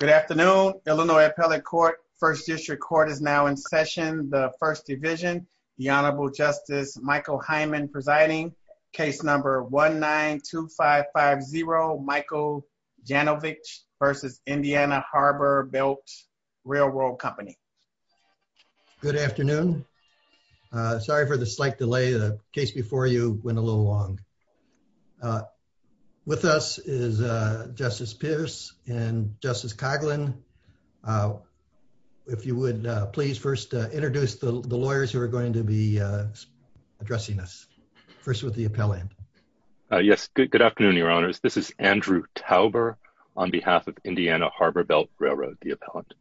Good afternoon, Illinois Appellate Court. First District Court is now in session. The First Division, the Honorable Justice Michael Hyman presiding. Case number 1-9-2-5-5-0, Michael Janovich versus Indiana Harbor Belt Railroad Company. Good afternoon. Sorry for the slight delay. The case before you went a little long. With us is Justice Pierce and Justice Coghlan. If you would please first introduce the lawyers who are going to be addressing us. First with the appellant. Yes, good afternoon, your honors. This is Andrew Tauber on behalf of Indiana Harbor Belt Railroad, the appellant.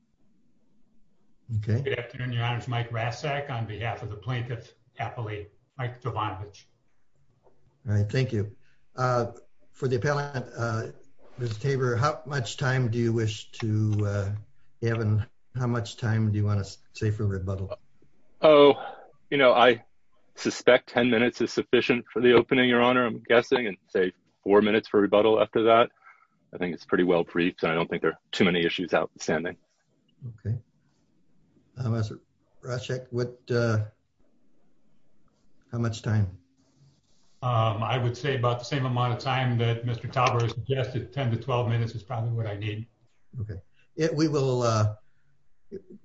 Good afternoon, your honors. Mike Rasek on behalf of the Plaintiff's Appellate, Mike Jovanovich. All right. Thank you. Uh, for the appellant, uh, Mr. Tauber, how much time do you wish to, uh, you haven't? How much time do you want to say for rebuttal? Oh, you know, I suspect 10 minutes is sufficient for the opening, your honor. I'm guessing and say four minutes for rebuttal. After that, I think it's pretty well briefed, and I don't think there are too many issues out standing. Okay. I'm a project. What? How much time? Um, I would say about the same amount of time that Mr. Tauber suggested. 10 to 12 minutes is probably what I need. Okay, we will, uh,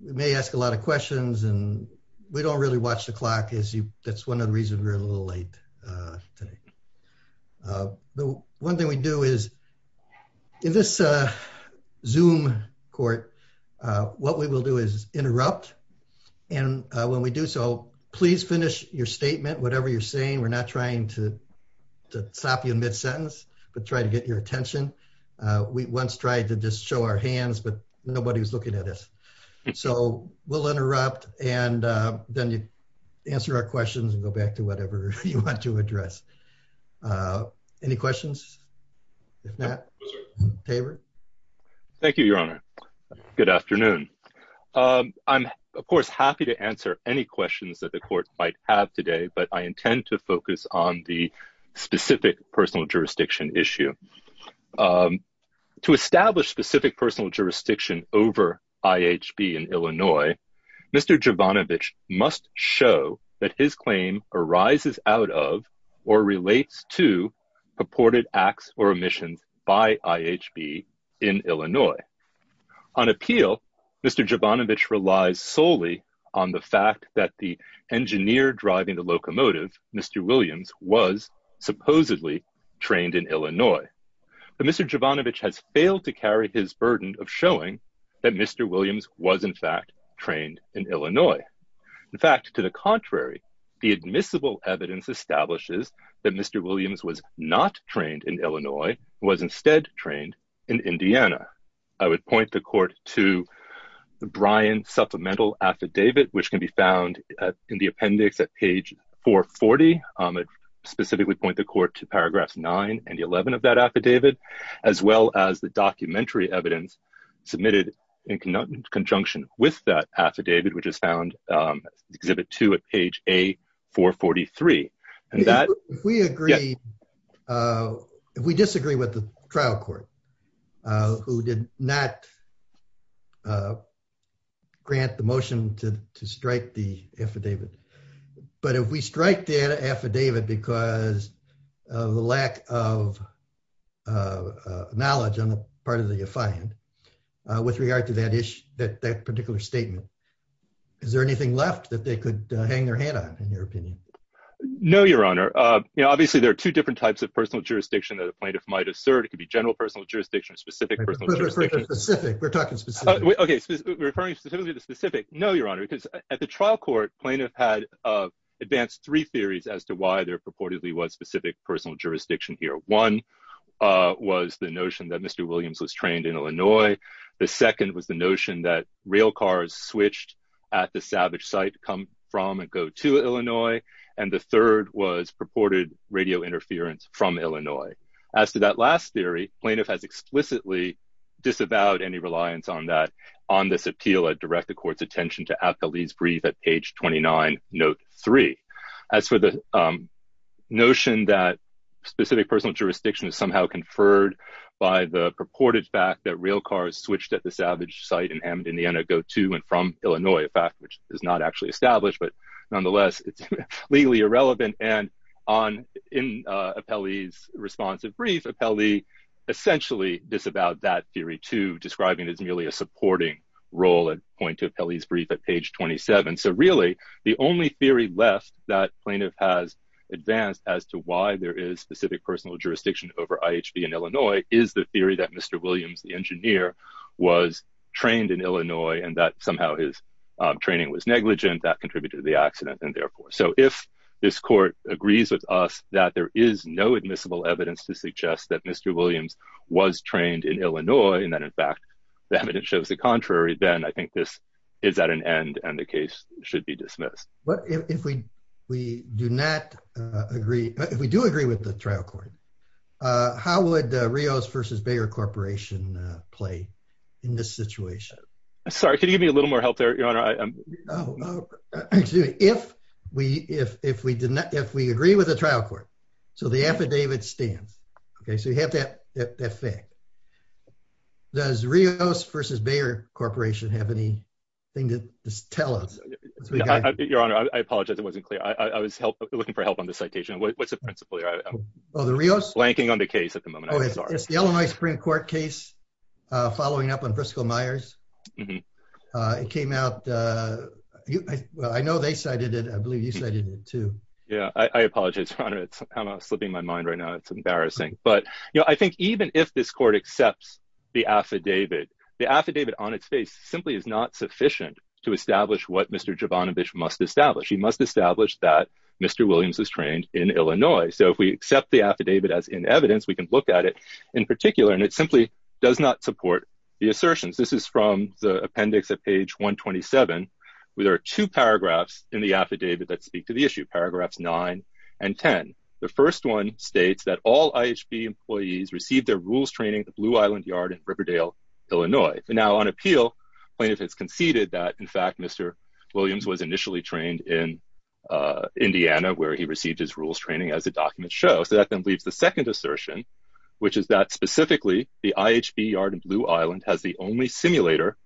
may ask a lot of questions, and we don't really watch the clock is you. That's one of the reasons we're a little late, uh, today. Uh, the one thing we do is in this, uh, zoom court. What we will do is interrupt. And when we do so, please finish your statement. Whatever you're saying. We're not trying to stop you in mid sentence, but try to get your attention. We once tried to just show our hands, but nobody was looking at us. So we'll interrupt and then you answer our questions and go back to whatever you want to address. Uh, any questions? If not, Tabor. Thank you, Your Honor. Good afternoon. Um, I'm, of course, happy to answer any questions that the court might have today, but I intend to focus on the specific personal jurisdiction issue, um, to establish specific personal jurisdiction over IHB in Illinois. Mr. Jovanovich must show that his claim arises out of or relates to purported acts or emissions by IHB in Illinois. On appeal, Mr. Jovanovich relies solely on the fact that the engineer driving the locomotive, Mr. Williams, was supposedly trained in Illinois. But Mr. Jovanovich has failed to carry his burden of showing that Mr. Williams was, in fact, trained in Illinois. In fact, to the contrary, the admissible evidence establishes that Mr. Williams was not trained in Illinois, was instead trained in Indiana. I would point the court to the Bryan supplemental affidavit, which can be found in the appendix at page 440. Um, specifically point the court to the Bryan supplemental affidavit, as well as the documentary evidence submitted in conjunction with that affidavit, which is found, um, exhibit two at page A443. And that, if we agree, uh, we disagree with the trial court, uh, who did not, uh, grant the motion to, to strike the affidavit. But if we strike the affidavit, because of the lack of, uh, knowledge on the part of the affiant, uh, with regard to that issue, that, that particular statement, is there anything left that they could hang their head on, in your opinion? No, Your Honor. Uh, you know, obviously there are two different types of personal jurisdiction that a plaintiff might assert. It could be general personal jurisdiction or specific personal jurisdiction. Specific. We're talking specific. Okay. Referring specifically to specific. No, Your Honor, because at the trial court, plaintiff had, uh, advanced three theories as to why there purportedly was specific personal jurisdiction here. One, uh, was the notion that Mr. Williams was trained in Illinois. The second was the notion that rail cars switched at the Savage site come from and go to Illinois. And the third was purported radio interference from Illinois. As to that last theory, plaintiff has explicitly disavowed any reliance on that, on this appeal at direct the court's attention to Apkalee's brief at page 29, note three. As for the, um, notion that specific personal jurisdiction is somehow conferred by the purported fact that rail cars switched at the Savage site in Amad, Indiana, go to and from Illinois, a fact which is not actually established, but nonetheless, it's legally irrelevant. And on, in, uh, Apkalee's responsive brief, Apkalee essentially disavowed that theory too, describing it as merely a supporting role at point to Apkalee's brief at page 27. So really the only theory left that plaintiff has advanced as to why there is specific personal jurisdiction over IHB in Illinois is the theory that Mr. Williams, the engineer, was trained in Illinois and that somehow his, um, training was negligent that contributed to the accident. And therefore, so if this court agrees with us that there is no admissible evidence to suggest that Mr. Williams was trained in Illinois, and that in fact, the evidence shows the contrary, then I think this is at an end and the case should be dismissed. But if we, we do not agree, if we do agree with the trial court, uh, how would, uh, Rios versus Bayer corporation, uh, play in this situation? Sorry, can you give me a little more help there, your honor? Oh, excuse me. If we, if, if we did not, if we agree with the trial court, so the affidavit stands. Okay. So you have that, that, that fact does Rios versus Bayer corporation have any thing to tell us? Your honor, I apologize. It wasn't clear. I was looking for help on the citation. What's the principle here? Oh, the Rios? Blanking on the case at the moment. It's the Illinois Supreme court case, uh, following up on Briscoe Myers. Uh, it came out, uh, well, I know they cited it. I believe you cited it too. Yeah. I apologize for honor. It's kind of slipping my mind right now. It's embarrassing, but you know, I think even if this court accepts the affidavit, the affidavit on its face simply is not sufficient to establish what Mr. Jovanovich must establish. He must establish that Mr. Williams is trained in Illinois. So if we accept the affidavit as in evidence, we can look at it in particular, and it simply does not support the assertions. This is from the appendix at page 127, where there are two paragraphs in the affidavit that speak to the issue. Paragraphs nine and 10. The first one states that all IHB employees received their rules training at the Blue Island yard in Riverdale, Illinois. And now on appeal, plaintiff has conceded that in fact, Mr. Williams was initially trained in, uh, Indiana where he received his rules training as a document show. So that then leaves the second assertion, which is that specifically the IHB yard in Blue Island has the only simulator,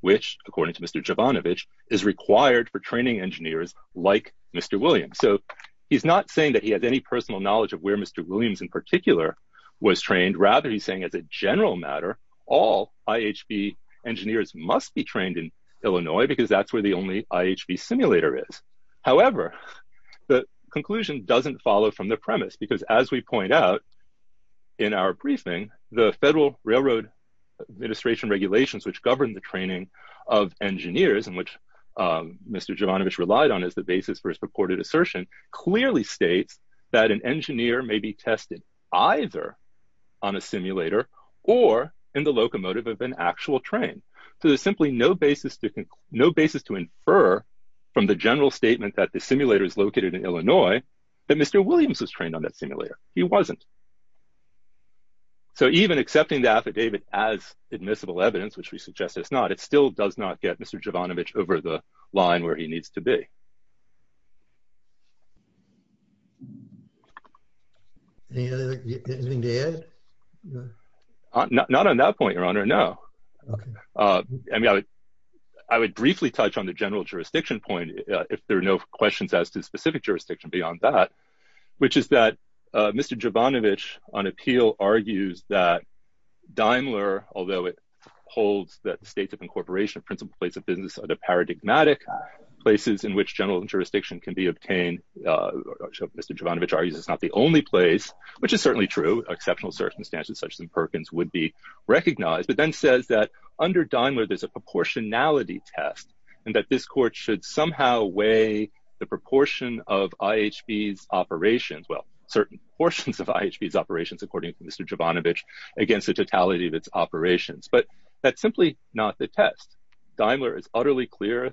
which according to Mr. Jovanovich is required for training engineers like Mr. Williams. So he's not saying that he has any personal knowledge of where Mr. Williams in particular was trained. Rather, he's saying as a general matter, all IHB engineers must be trained in Illinois because that's where the only IHB simulator is. However, the conclusion doesn't follow from the premise, because as we point out in our briefing, the Federal Railroad Administration regulations, which govern the training of engineers and which Mr. Jovanovich relied on as the basis for his purported assertion, clearly states that an engineer may be tested either on a simulator or in the locomotive of an actual train. So there's simply no basis to, no basis to infer from the general statement that the simulator is located in Illinois, that Mr. Williams was trained on that simulator. He wasn't. So even accepting the affidavit as admissible evidence, which we suggest it's not, it still does not get Mr. Jovanovich over the line where he needs to be. Anything to add? Not on that point, Your Honor, no. I mean, I would briefly touch on the general jurisdiction point, if there are no questions as to specific jurisdiction beyond that, which is that Mr. Jovanovich on appeal argues that Daimler, although it holds that the states of incorporation of principal place of business are the paradigmatic places in which general jurisdiction can be obtained. Mr. Jovanovich argues it's not the only place, which is certainly true, exceptional circumstances such as in Perkins would be recognized, but then says that under Daimler, there's a proportionality test and that this court should somehow weigh the proportion of IHB's operations. Well, certain portions of IHB's operations, according to Mr. Jovanovich, against the totality of its operations, but that's simply not the test. Daimler is utterly clear,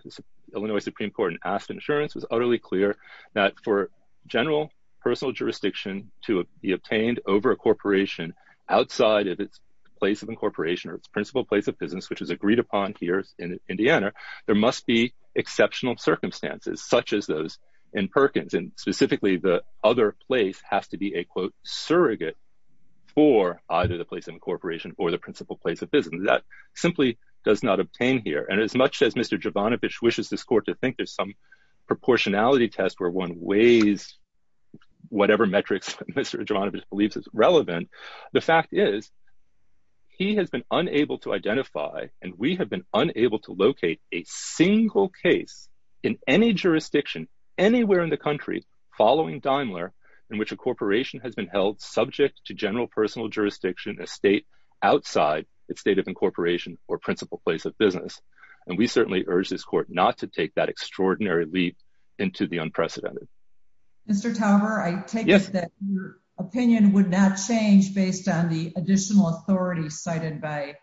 Illinois Supreme Court and Asked Insurance was utterly clear that for general personal jurisdiction to be obtained over a corporation outside of its place of incorporation or its principal place of business, which is agreed upon here in Indiana, there must be exceptional circumstances such as those in Perkins and specifically the other place has to be a quote surrogate for either the place of incorporation or the principal place of business. That simply does not obtain here. And as much as Mr. Jovanovich wishes this court to think there's some proportionality test where one weighs whatever metrics Mr. Jovanovich believes is relevant. The fact is he has been unable to identify and we have been unable to locate a single case in any jurisdiction anywhere in the country following Daimler in which a corporation has been held subject to general personal jurisdiction. A state outside its state of incorporation or principal place of business. And we certainly urge this court not to take that extraordinary leap into the unprecedented. Mr. Tauber, I take it that your opinion would not change based on the additional authority cited by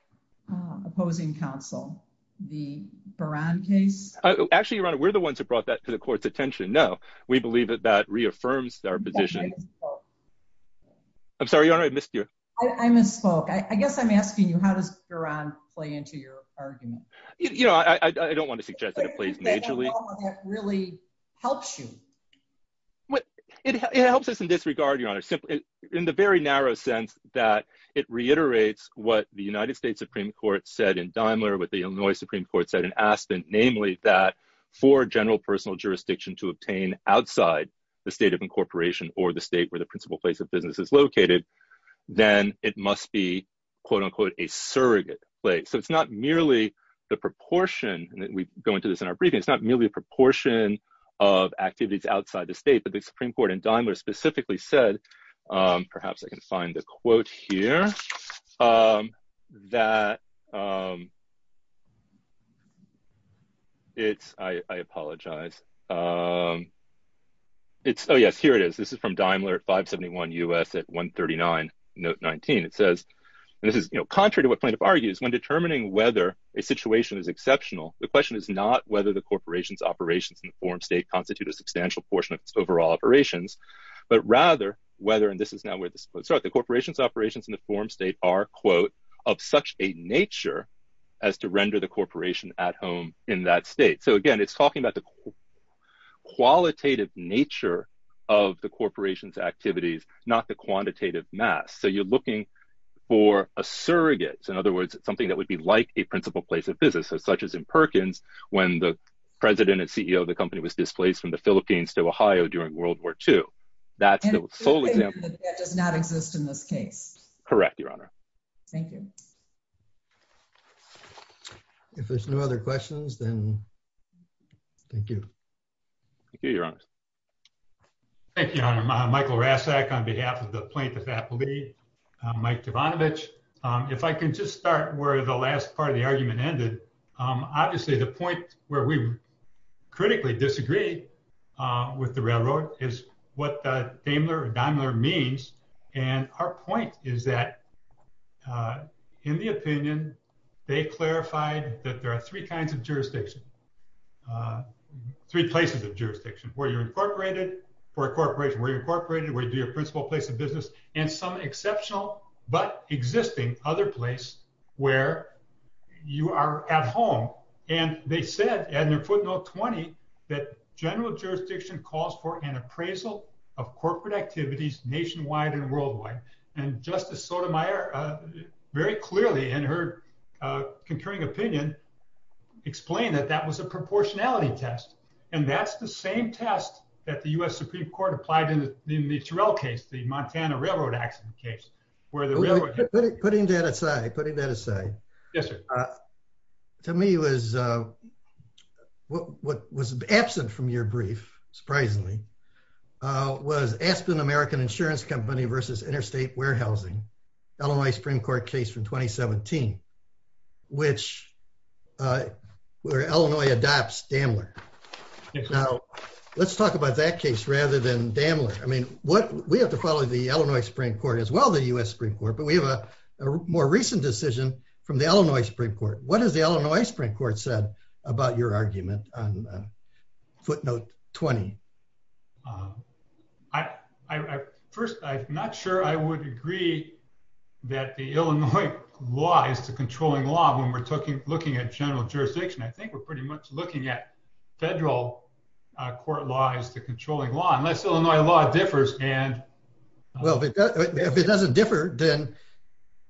opposing counsel. The Baran case. Actually, Your Honor, we're the ones who brought that to the court's attention. No, we believe that that reaffirms our position. I'm sorry, Your Honor, I missed you. I misspoke. I guess I'm asking you, how does Baran play into your argument? You know, I don't want to suggest that it plays majorly. I don't know if it really helps you. Well, it helps us in this regard, Your Honor. In the very narrow sense that it reiterates what the United States Supreme Court said in Daimler with the Illinois Supreme Court said in Aston, namely that for general personal jurisdiction to obtain outside the state of incorporation or the state where the principal place of business is located. Then it must be, quote unquote, a surrogate place. So it's not merely the proportion that we go into this in our briefing. It's not merely a proportion of activities outside the state. But the Supreme Court in Daimler specifically said, perhaps I can find the quote here, that. It's, I apologize. It's, oh, yes, here it is. This is from Daimler at 571 U.S. at 139, note 19. It says, and this is, you know, contrary to what plaintiff argues, when determining whether a situation is exceptional, the question is not whether the corporation's operations in the forum state constitute a substantial portion of its overall operations, but rather whether, and this is now where this quote starts, the corporation's operations in the forum state are, quote, of such a nature as to render the corporation at home in that state. So, again, it's talking about the qualitative nature of the corporation's activities, not the quantitative mass. So you're looking for a surrogate. In other words, something that would be like a principal place of business, such as in Perkins, when the president and CEO of the company was displaced from the Philippines to Ohio during World War II. That's the sole example. That does not exist in this case. Correct, Your Honor. Thank you. If there's no other questions, then thank you. Thank you, Your Honor. Thank you, Your Honor. I'm Michael Rasek on behalf of the plaintiff's athlete, Mike Devonovich. If I can just start where the last part of the argument ended, obviously the point where we critically disagree with the railroad is what Daimler means. And our point is that, in the opinion, they clarified that there are three kinds of jurisdiction, three places of jurisdiction, where you're incorporated for a corporation, where you're incorporated, where you do your principal place of business, and some exceptional but existing other place where you are at home. And they said, in their footnote 20, that general jurisdiction calls for an appraisal of corporate activities nationwide and worldwide. And Justice Sotomayor, very clearly in her concurring opinion, explained that that was a proportionality test. And that's the same test that the U.S. Supreme Court applied in the Turell case, the Montana railroad accident case. Putting that aside, putting that aside. Yes, sir. To me, what was absent from your brief, surprisingly, was Aspen American Insurance Company versus Interstate Warehousing, Illinois Supreme Court case from 2017, where Illinois adopts Daimler. Now, let's talk about that case rather than Daimler. We have to follow the Illinois Supreme Court as well as the U.S. Supreme Court, but we have a more recent decision from the Illinois Supreme Court. What has the Illinois Supreme Court said about your argument on footnote 20? First, I'm not sure I would agree that the Illinois law is the controlling law when we're looking at general jurisdiction. I think we're pretty much looking at federal court laws as the controlling law, unless Illinois law differs. Well, if it doesn't differ, then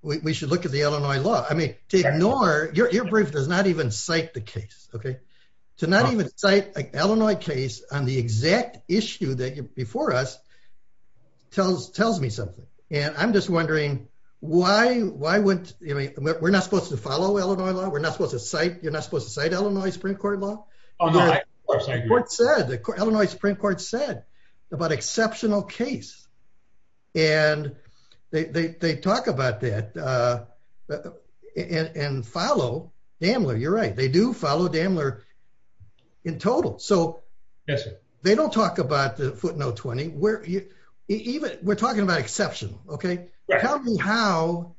we should look at the Illinois law. I mean, to ignore, your brief does not even cite the case. To not even cite an Illinois case on the exact issue before us tells me something. I'm just wondering, we're not supposed to follow Illinois law? You're not supposed to cite Illinois Supreme Court law? The Illinois Supreme Court said about exceptional case, and they talk about that and follow Daimler. You're right, they do follow Daimler in total. Yes, sir. They don't talk about footnote 20. We're talking about exceptional, okay? Tell me how,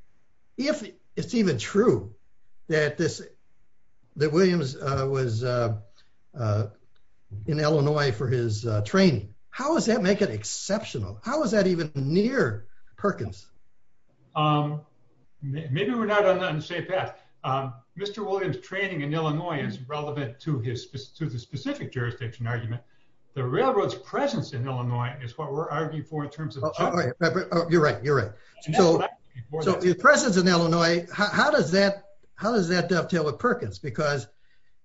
if it's even true that Williams was in Illinois for his training, how does that make it exceptional? How is that even near Perkins? Maybe we're not on the same path. Mr. Williams' training in Illinois is relevant to the specific jurisdiction argument. The railroad's presence in Illinois is what we're arguing for in terms of- You're right, you're right. His presence in Illinois, how does that dovetail with Perkins? Because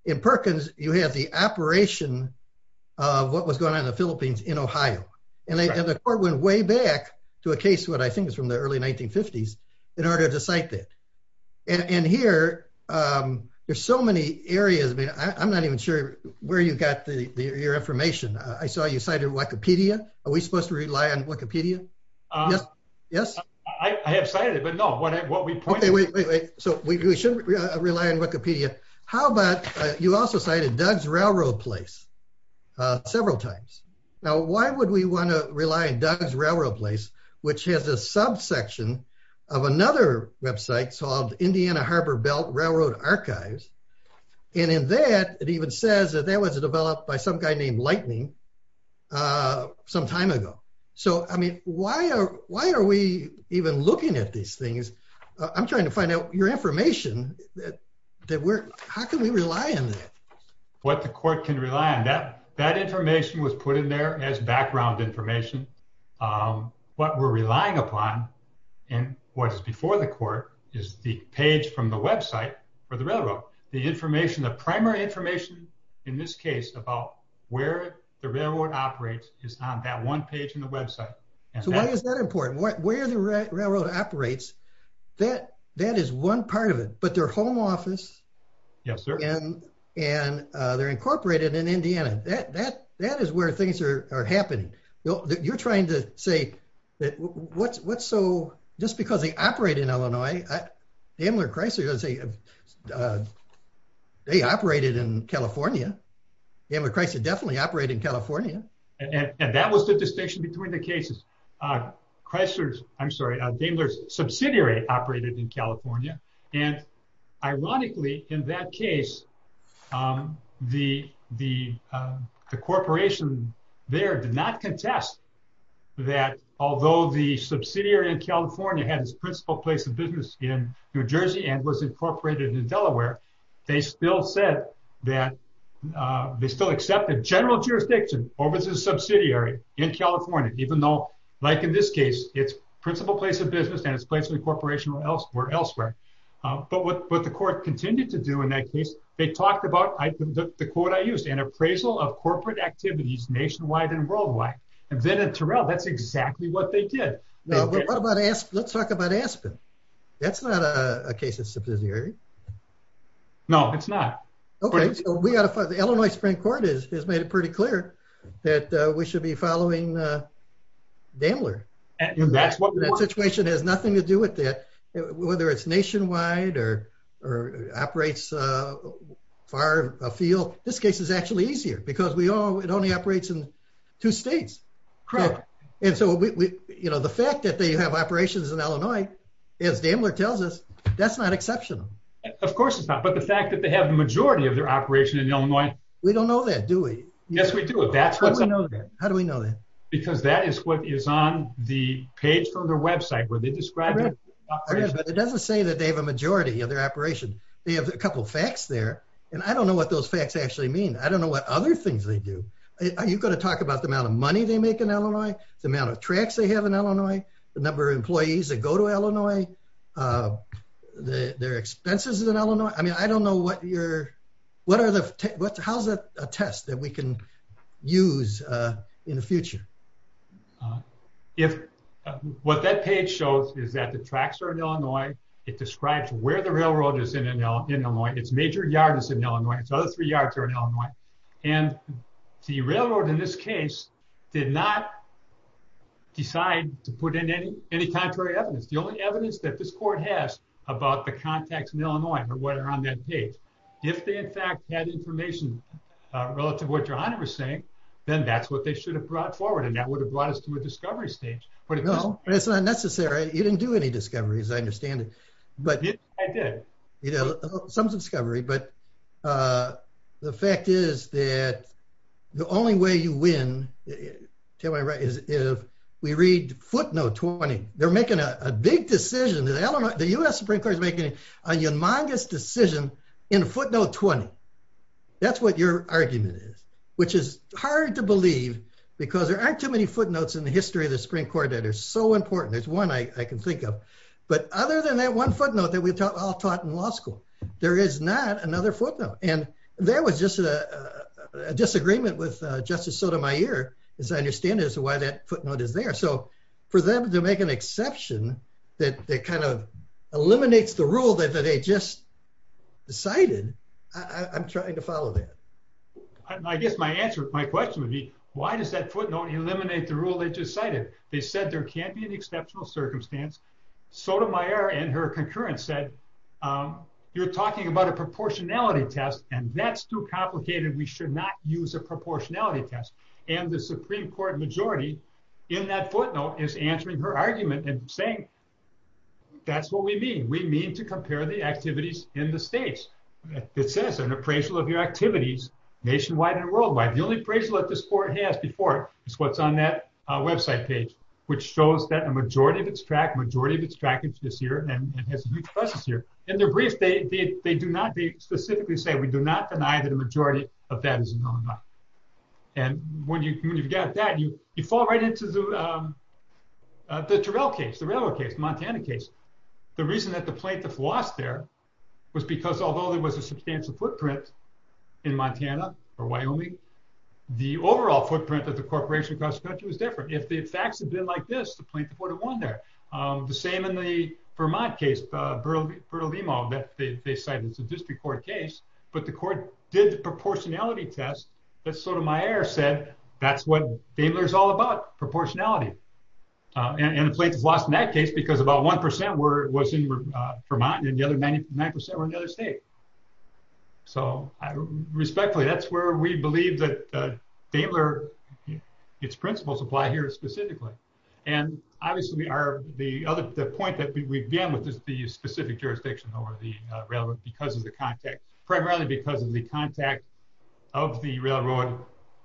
in Perkins, you have the operation of what was going on in the Philippines in Ohio. And the court went way back to a case, what I think is from the early 1950s, in order to cite that. And here, there's so many areas. I'm not even sure where you got your information. I saw you cited Wikipedia. Are we supposed to rely on Wikipedia? Yes? I have cited it, but no. We shouldn't rely on Wikipedia. How about, you also cited Doug's Railroad Place several times. Now, why would we want to rely on Doug's Railroad Place, which has a subsection of another website called Indiana Harbor Belt Railroad Archives. And in that, it even says that that was developed by some guy named Lightning some time ago. So, I mean, why are we even looking at these things? I'm trying to find out your information. How can we rely on that? What the court can rely on. That information was put in there as background information. What we're relying upon, and what is before the court, is the page from the website for the railroad. The information, the primary information in this case about where the railroad operates is on that one page in the website. So why is that important? Where the railroad operates, that is one part of it. But their home office. Yes, sir. And they're incorporated in Indiana. That is where things are happening. You're trying to say that what's so, just because they operate in Illinois. Daimler Chrysler, they operated in California. Daimler Chrysler definitely operated in California. And that was the distinction between the cases. Chrysler's, I'm sorry, Daimler's subsidiary operated in California. And ironically, in that case, the corporation there did not contest that although the subsidiary in California had its principal place of business in New Jersey and was incorporated in Delaware. They still said that, they still accepted general jurisdiction over the subsidiary in California. Even though, like in this case, its principal place of business and its place of incorporation were elsewhere. But what the court continued to do in that case, they talked about, the quote I used, an appraisal of corporate activities nationwide and worldwide. And then at Terrell, that's exactly what they did. Let's talk about Aspen. That's not a case of subsidiary. No, it's not. The Illinois Supreme Court has made it pretty clear that we should be following Daimler. That situation has nothing to do with that. Whether it's nationwide or operates far afield, this case is actually easier because it only operates in two states. And so the fact that they have operations in Illinois, as Daimler tells us, that's not exceptional. Of course it's not. But the fact that they have the majority of their operation in Illinois. We don't know that, do we? Yes, we do. How do we know that? Because that is what is on the page from their website where they describe their operation. But it doesn't say that they have a majority of their operation. They have a couple facts there. And I don't know what those facts actually mean. I don't know what other things they do. Are you going to talk about the amount of money they make in Illinois? The amount of tracks they have in Illinois? The number of employees that go to Illinois? Their expenses in Illinois? I mean, I don't know what your... What are the... How is that a test that we can use in the future? What that page shows is that the tracks are in Illinois. It describes where the railroad is in Illinois. Its major yard is in Illinois. Its other three yards are in Illinois. And the railroad in this case did not decide to put in any contrary evidence. The only evidence that this court has about the contacts in Illinois are what are on that page. If they, in fact, had information relative to what your Honor is saying, then that's what they should have brought forward. And that would have brought us to a discovery stage. Well, it's not necessary. You didn't do any discoveries. I understand it. I did. Some discovery. But the fact is that the only way you win, if we read footnote 20, they're making a big decision. The U.S. Supreme Court is making a humongous decision in footnote 20. That's what your argument is, which is hard to believe because there aren't too many footnotes in the history of the Supreme Court that are so important. There's one I can think of. But other than that one footnote that we all taught in law school, there is not another footnote. And there was just a disagreement with Justice Sotomayor, as I understand it, as to why that footnote is there. So for them to make an exception that kind of eliminates the rule that they just cited, I'm trying to follow that. I guess my answer, my question would be, why does that footnote eliminate the rule they just cited? They said there can't be an exceptional circumstance. Sotomayor and her concurrence said, you're talking about a proportionality test, and that's too complicated. We should not use a proportionality test. And the Supreme Court majority in that footnote is answering her argument and saying, that's what we mean. We mean to compare the activities in the states. It says an appraisal of your activities nationwide and worldwide. The only appraisal that this court has before is what's on that website page, which shows that a majority of its track, a majority of its track is this year and has a new process this year. In their brief, they do not specifically say, we do not deny that a majority of that is a known fact. And when you've got that, you fall right into the Terrell case, the railroad case, the Montana case. The reason that the plaintiff lost there was because although there was a substantial footprint in Montana or Wyoming, the overall footprint of the corporation across the country was different. If the facts had been like this, the plaintiff would have won there. The same in the Vermont case, Bertolino, that they cited as a district court case, but the court did the proportionality test that Sotomayor said, that's what Daimler is all about, proportionality. And the plaintiff lost in that case because about 1% was in Vermont and the other 99% were in the other state. Respectfully, that's where we believe that Daimler, its principles apply here specifically. The point that we began with is the specific jurisdiction over the railroad because of the context, primarily because of the context of the railroad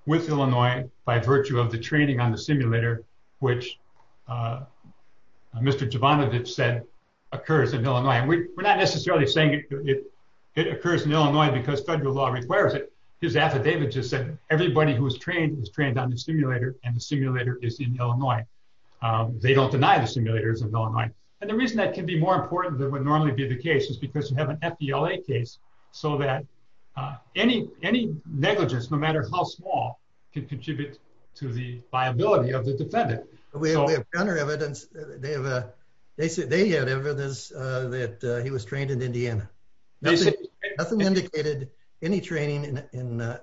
with Illinois by virtue of the training on the simulator, which Mr. Jovanovich said occurs in Illinois. We're not necessarily saying it occurs in Illinois because federal law requires it. His affidavit just said everybody who is trained is trained on the simulator and the simulator is in Illinois. They don't deny the simulators in Illinois. And the reason that can be more important than would normally be the case is because you have an FDLA case so that any negligence, no matter how small, can contribute to the viability of the defendant. We have evidence, they have evidence that he was trained in Indiana. Nothing indicated any training in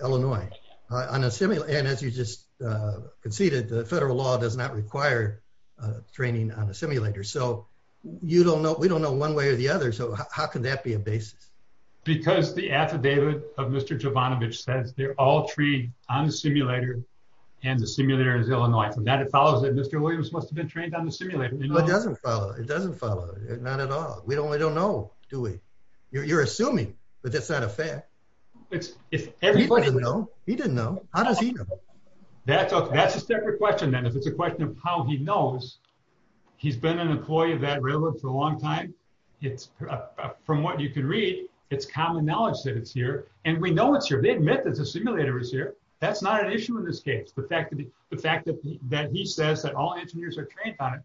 Illinois. And as you just conceded, the federal law does not require training on a simulator. So we don't know one way or the other. So how can that be a basis? Because the affidavit of Mr. Jovanovich says they're all trained on the simulator and the simulator is Illinois. From that it follows that Mr. Williams must have been trained on the simulator. It doesn't follow. We don't know, do we? You're assuming, but that's not a fact. He doesn't know. How does he know? That's a separate question then. If it's a question of how he knows, he's been an employee of that railroad for a long time. From what you can read, it's common knowledge that it's here. And we know it's here. They admit that the simulator is here. That's not an issue in this case. The fact that he says that all engineers are trained on it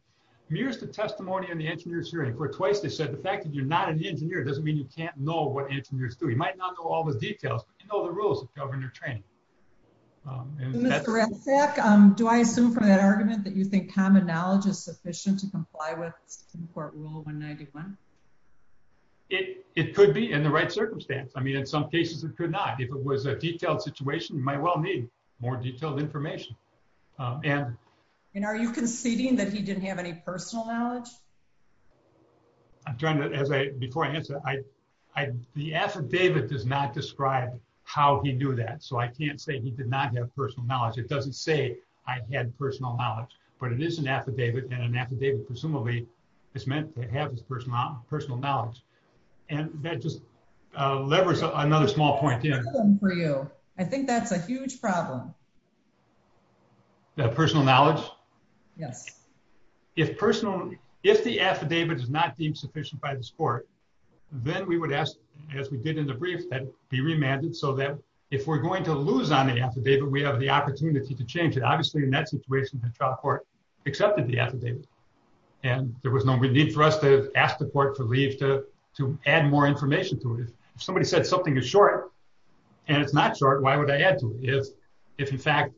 mirrors the testimony in the engineer's hearing where twice they said the fact that you're not an engineer doesn't mean you can't know what engineers do. You might not know all the details, but you know the rules of governor training. Mr. Ratzak, do I assume from that argument that you think common knowledge is sufficient to comply with Supreme Court Rule 191? It could be in the right circumstance. In some cases it could not. If it was a detailed situation, you might well need more detailed information. Are you conceding that he didn't have any personal knowledge? Before I answer, the affidavit does not describe how he knew that. I can't say he did not have personal knowledge. It doesn't say I had personal knowledge. But it is an affidavit and an affidavit presumably is meant to have his personal knowledge. That just levers another small point in. I think that's a huge problem. The personal knowledge? Yes. If the affidavit is not deemed sufficient by this court, then we would ask, as we did in the brief, that it be remanded so that if we're going to lose on the affidavit, we have the opportunity to change it. Obviously in that situation, the trial court accepted the affidavit. There was no need for us to ask the court for leave to add more information to it. If somebody said something is short and it's not short, why would I add to it? If in fact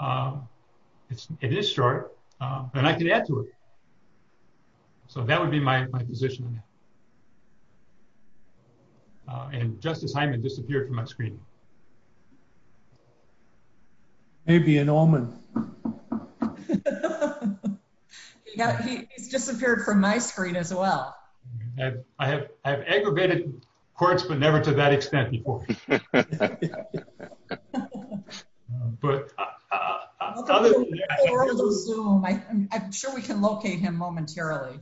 it is short, then I can add to it. That would be my position. Justice Hyman disappeared from my screen. He disappeared from my screen as well. I have aggravated courts, but never to that extent before. I'm sure we can locate him momentarily.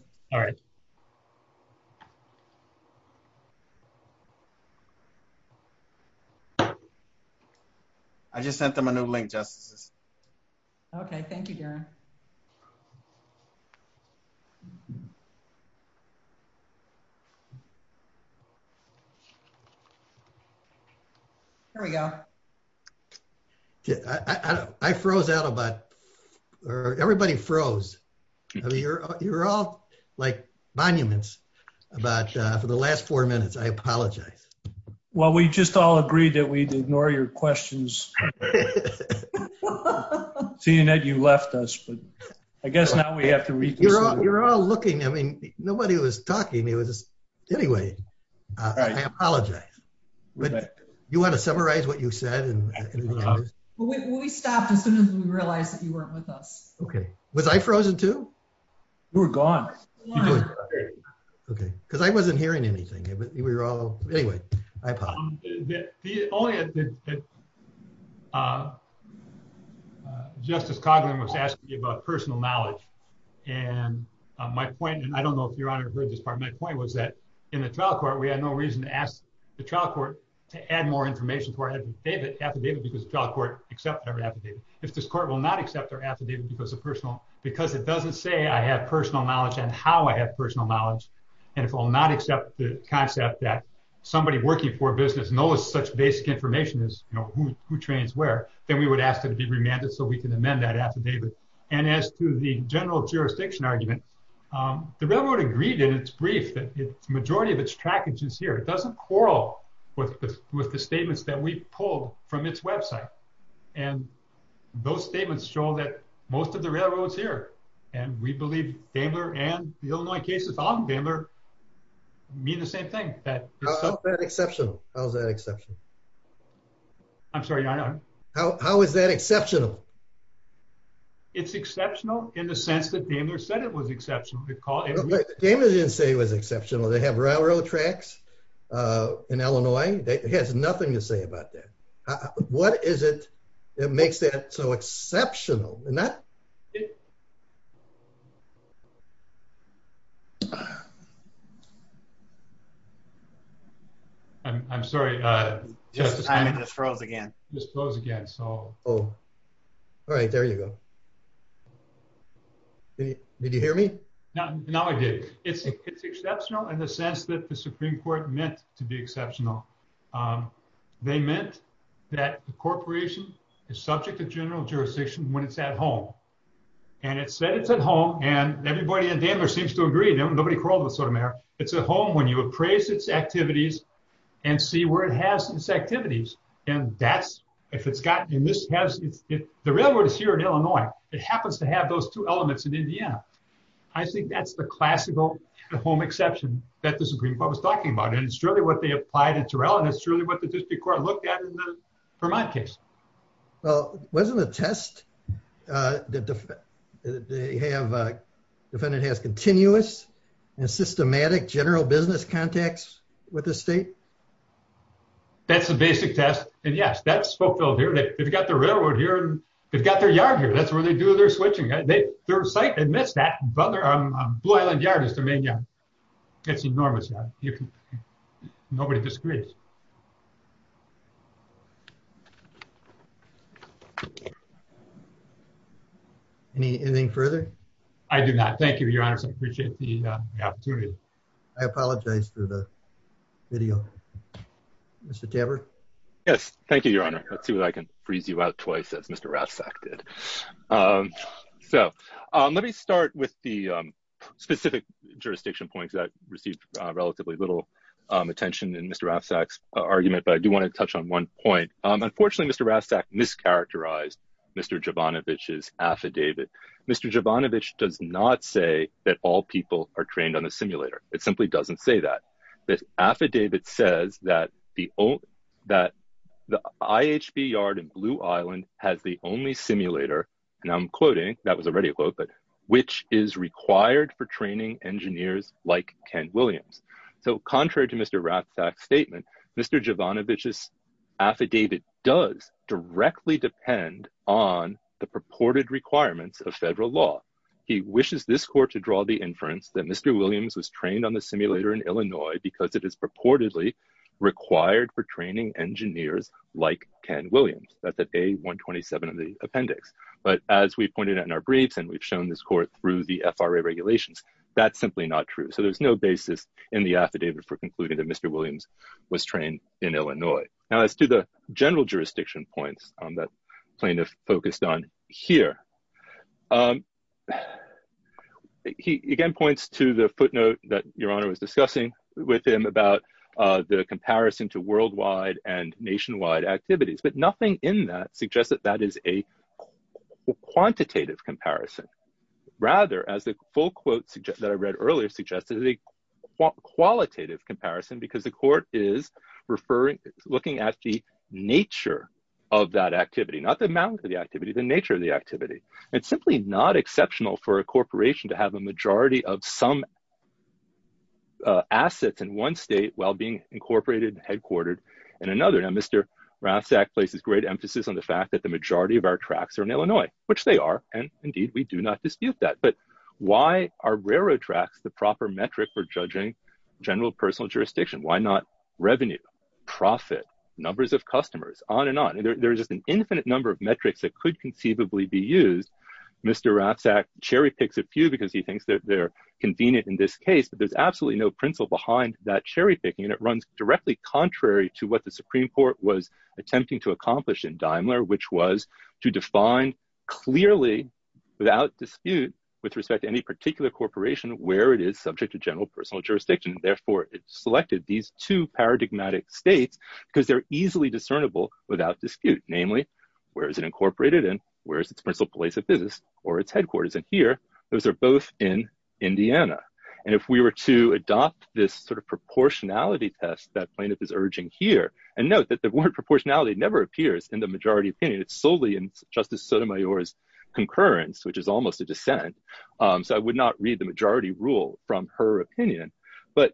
I just sent them a new link, Justices. Okay. Thank you, Darren. Here we go. I froze out about... Everybody froze. You're all like monuments. For the last four minutes, I apologize. Well, we just all agreed that we'd ignore your questions. Seeing that you left us. I guess now we have to reconsider. You're all looking. Nobody was talking. I apologize. You want to summarize what you said? We stopped as soon as we realized that you weren't with us. Was I frozen too? You were gone. I wasn't hearing anything. Justice Coghlan was asking about personal knowledge. My point, and I don't know if Your Honor heard this part, my point was that in the trial court, we had no reason to ask the trial court to add more information to our affidavit because the trial court accepted our affidavit. If this court will not accept our affidavit because it doesn't say I have personal knowledge and how I have personal knowledge, and if it will not accept the concept that somebody working for a business knows such basic information as who trains where, then we would ask it to be remanded so we can amend that affidavit. As to the general jurisdiction argument, the railroad agreed in its brief that the majority of its trackage is here. It doesn't quarrel with the statements that we pulled from its website. Those statements show that most of the railroad is here. We believe Daimler and the Illinois cases on Daimler mean the same thing. How is that exceptional? I'm sorry, Your Honor? How is that exceptional? It's exceptional in the sense that Daimler said it was exceptional. Daimler didn't say it was exceptional. They have railroad tracks in Illinois. It has nothing to say about that. What is it that makes that so exceptional? I'm sorry. Time just froze again. All right. There you go. Did you hear me? No, I did. It's exceptional in the sense that the Supreme Court meant to be exceptional. They meant that the corporation is subject to general jurisdiction when it's at home. It said it's at home, and everybody at Daimler seems to agree. It's at home when you appraise its activities and see where it has its activities. The railroad is here in Illinois. It happens to have those two elements in Indiana. I think that's the classical home exception that the Supreme Court was talking about, and it's really what they applied to Terrell, and it's really what the District Court looked at in the Vermont case. Wasn't it a test that the defendant has continuous and systematic general business contacts with the state? That's the basic test, and yes, that's fulfilled here. They've got the railroad here, and they've got their yard here. That's where they do their switching. Their site admits that, but their Blue Island yard is the main yard. It's enormous. Nobody disagrees. Anything further? I do not. Thank you, Your Honor. I appreciate the opportunity. I apologize for the video. Mr. Taber? Yes. Thank you, Your Honor. Let's see if I can freeze you out twice as Mr. Ravsak did. Let me start jurisdiction points that received relatively little attention in Mr. Ravsak's argument, but I do want to touch on one point. Unfortunately, Mr. Ravsak mischaracterized Mr. Jovanovich's affidavit. Mr. Jovanovich does not say that all people are trained on a simulator. It simply doesn't say that. The affidavit says that the IHV yard in Blue Island has the only simulator, and I'm quoting, that was already a quote, which is required for training engineers like Ken Williams. Contrary to Mr. Ravsak's statement, Mr. Jovanovich's affidavit does directly depend on the purported requirements of federal law. He wishes this court to draw the inference that Mr. Williams was trained on the simulator in Illinois because it is purportedly required for training engineers like Ken Williams. That's at A-127 of the appendix. But as we pointed out in our briefs, and we've shown this court through the FRA regulations, that's simply not true. So there's no basis in the affidavit for concluding that Mr. Williams was trained in Illinois. Now, as to the general jurisdiction points that plaintiff focused on here, he again points to the footnote that Your Honor was discussing with him about the comparison to worldwide and nationwide activities, but nothing in that suggests that that is a quantitative comparison. Rather, as the full quote that I read earlier suggested, it's a qualitative comparison because the court is looking at the worldwide activity, not the amount of the activity, the nature of the activity. It's simply not exceptional for a corporation to have a majority of some assets in one state while being incorporated and headquartered in another. Now, Mr. Rassak places great emphasis on the fact that the majority of our tracks are in Illinois, which they are, and indeed we do not dispute that. But why are railroad tracks the proper metric for judging general personal jurisdiction? Why not revenue, profit, numbers of customers, on and on. There's just an infinite number of metrics that could conceivably be used. Mr. Rassak cherry-picks a few because he thinks that they're convenient in this case, but there's absolutely no principle behind that cherry-picking, and it runs directly contrary to what the Supreme Court was attempting to accomplish in Daimler, which was to define clearly, without dispute, with respect to any particular corporation where it is subject to general personal jurisdiction. Therefore, it selected these two paradigmatic states because they're easily discernible without dispute. Namely, where is it incorporated in? Where is its principal place of business or its headquarters? And here, those are both in Indiana. And if we were to adopt this proportionality test that plaintiff is urging here, and note that the word proportionality never appears in the majority opinion. It's solely in Justice Sotomayor's concurrence, which is almost a dissent, so I would not read the majority rule from her opinion. But,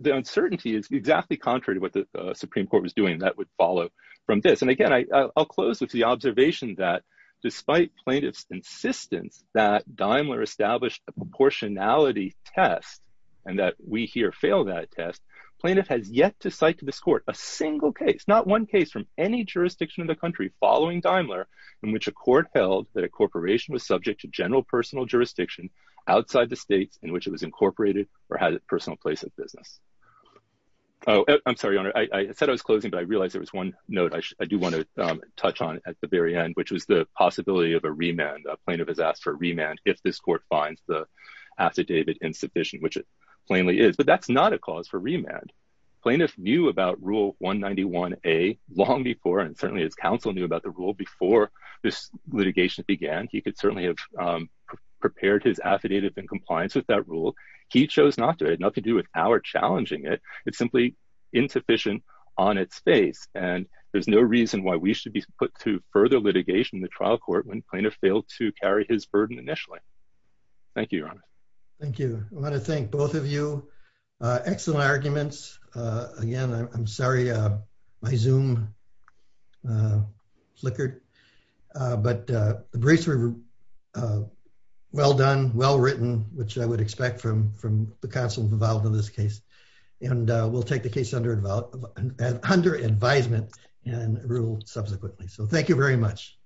the uncertainty is exactly contrary to what the Supreme Court was doing, and that would follow from this. And again, I'll close with the observation that, despite plaintiff's insistence that Daimler established a proportionality test, and that we here fail that test, plaintiff has yet to cite to this court a single case, not one case from any jurisdiction in the country following Daimler, in which a court held that a corporation was subject to general personal jurisdiction outside the states in which it was incorporated or had a personal place of business. Oh, I'm sorry, Your Honor, I said I was closing, but I realized there was one note I do want to touch on at the very end, which was the possibility of a remand. Plaintiff has asked for a remand if this court finds the affidavit insufficient, which it plainly is. But that's not a cause for remand. Plaintiff knew about Rule 191A long before, and certainly his counsel knew about the rule before this litigation began. He could certainly have prepared his affidavit in compliance with that rule. He chose not to. It had nothing to do with our challenging it. It's simply insufficient on its face. And there's no reason why we should be put to further litigation in the trial court when plaintiff failed to carry his burden initially. Thank you, Your Honor. Thank you. I want to thank both of you. Excellent arguments. Again, I'm sorry my Zoom flickered. But the briefs were well done, well written, which I would expect from the counsel involved in this case. And we'll take the case under advisement and rule subsequently. So thank you very much.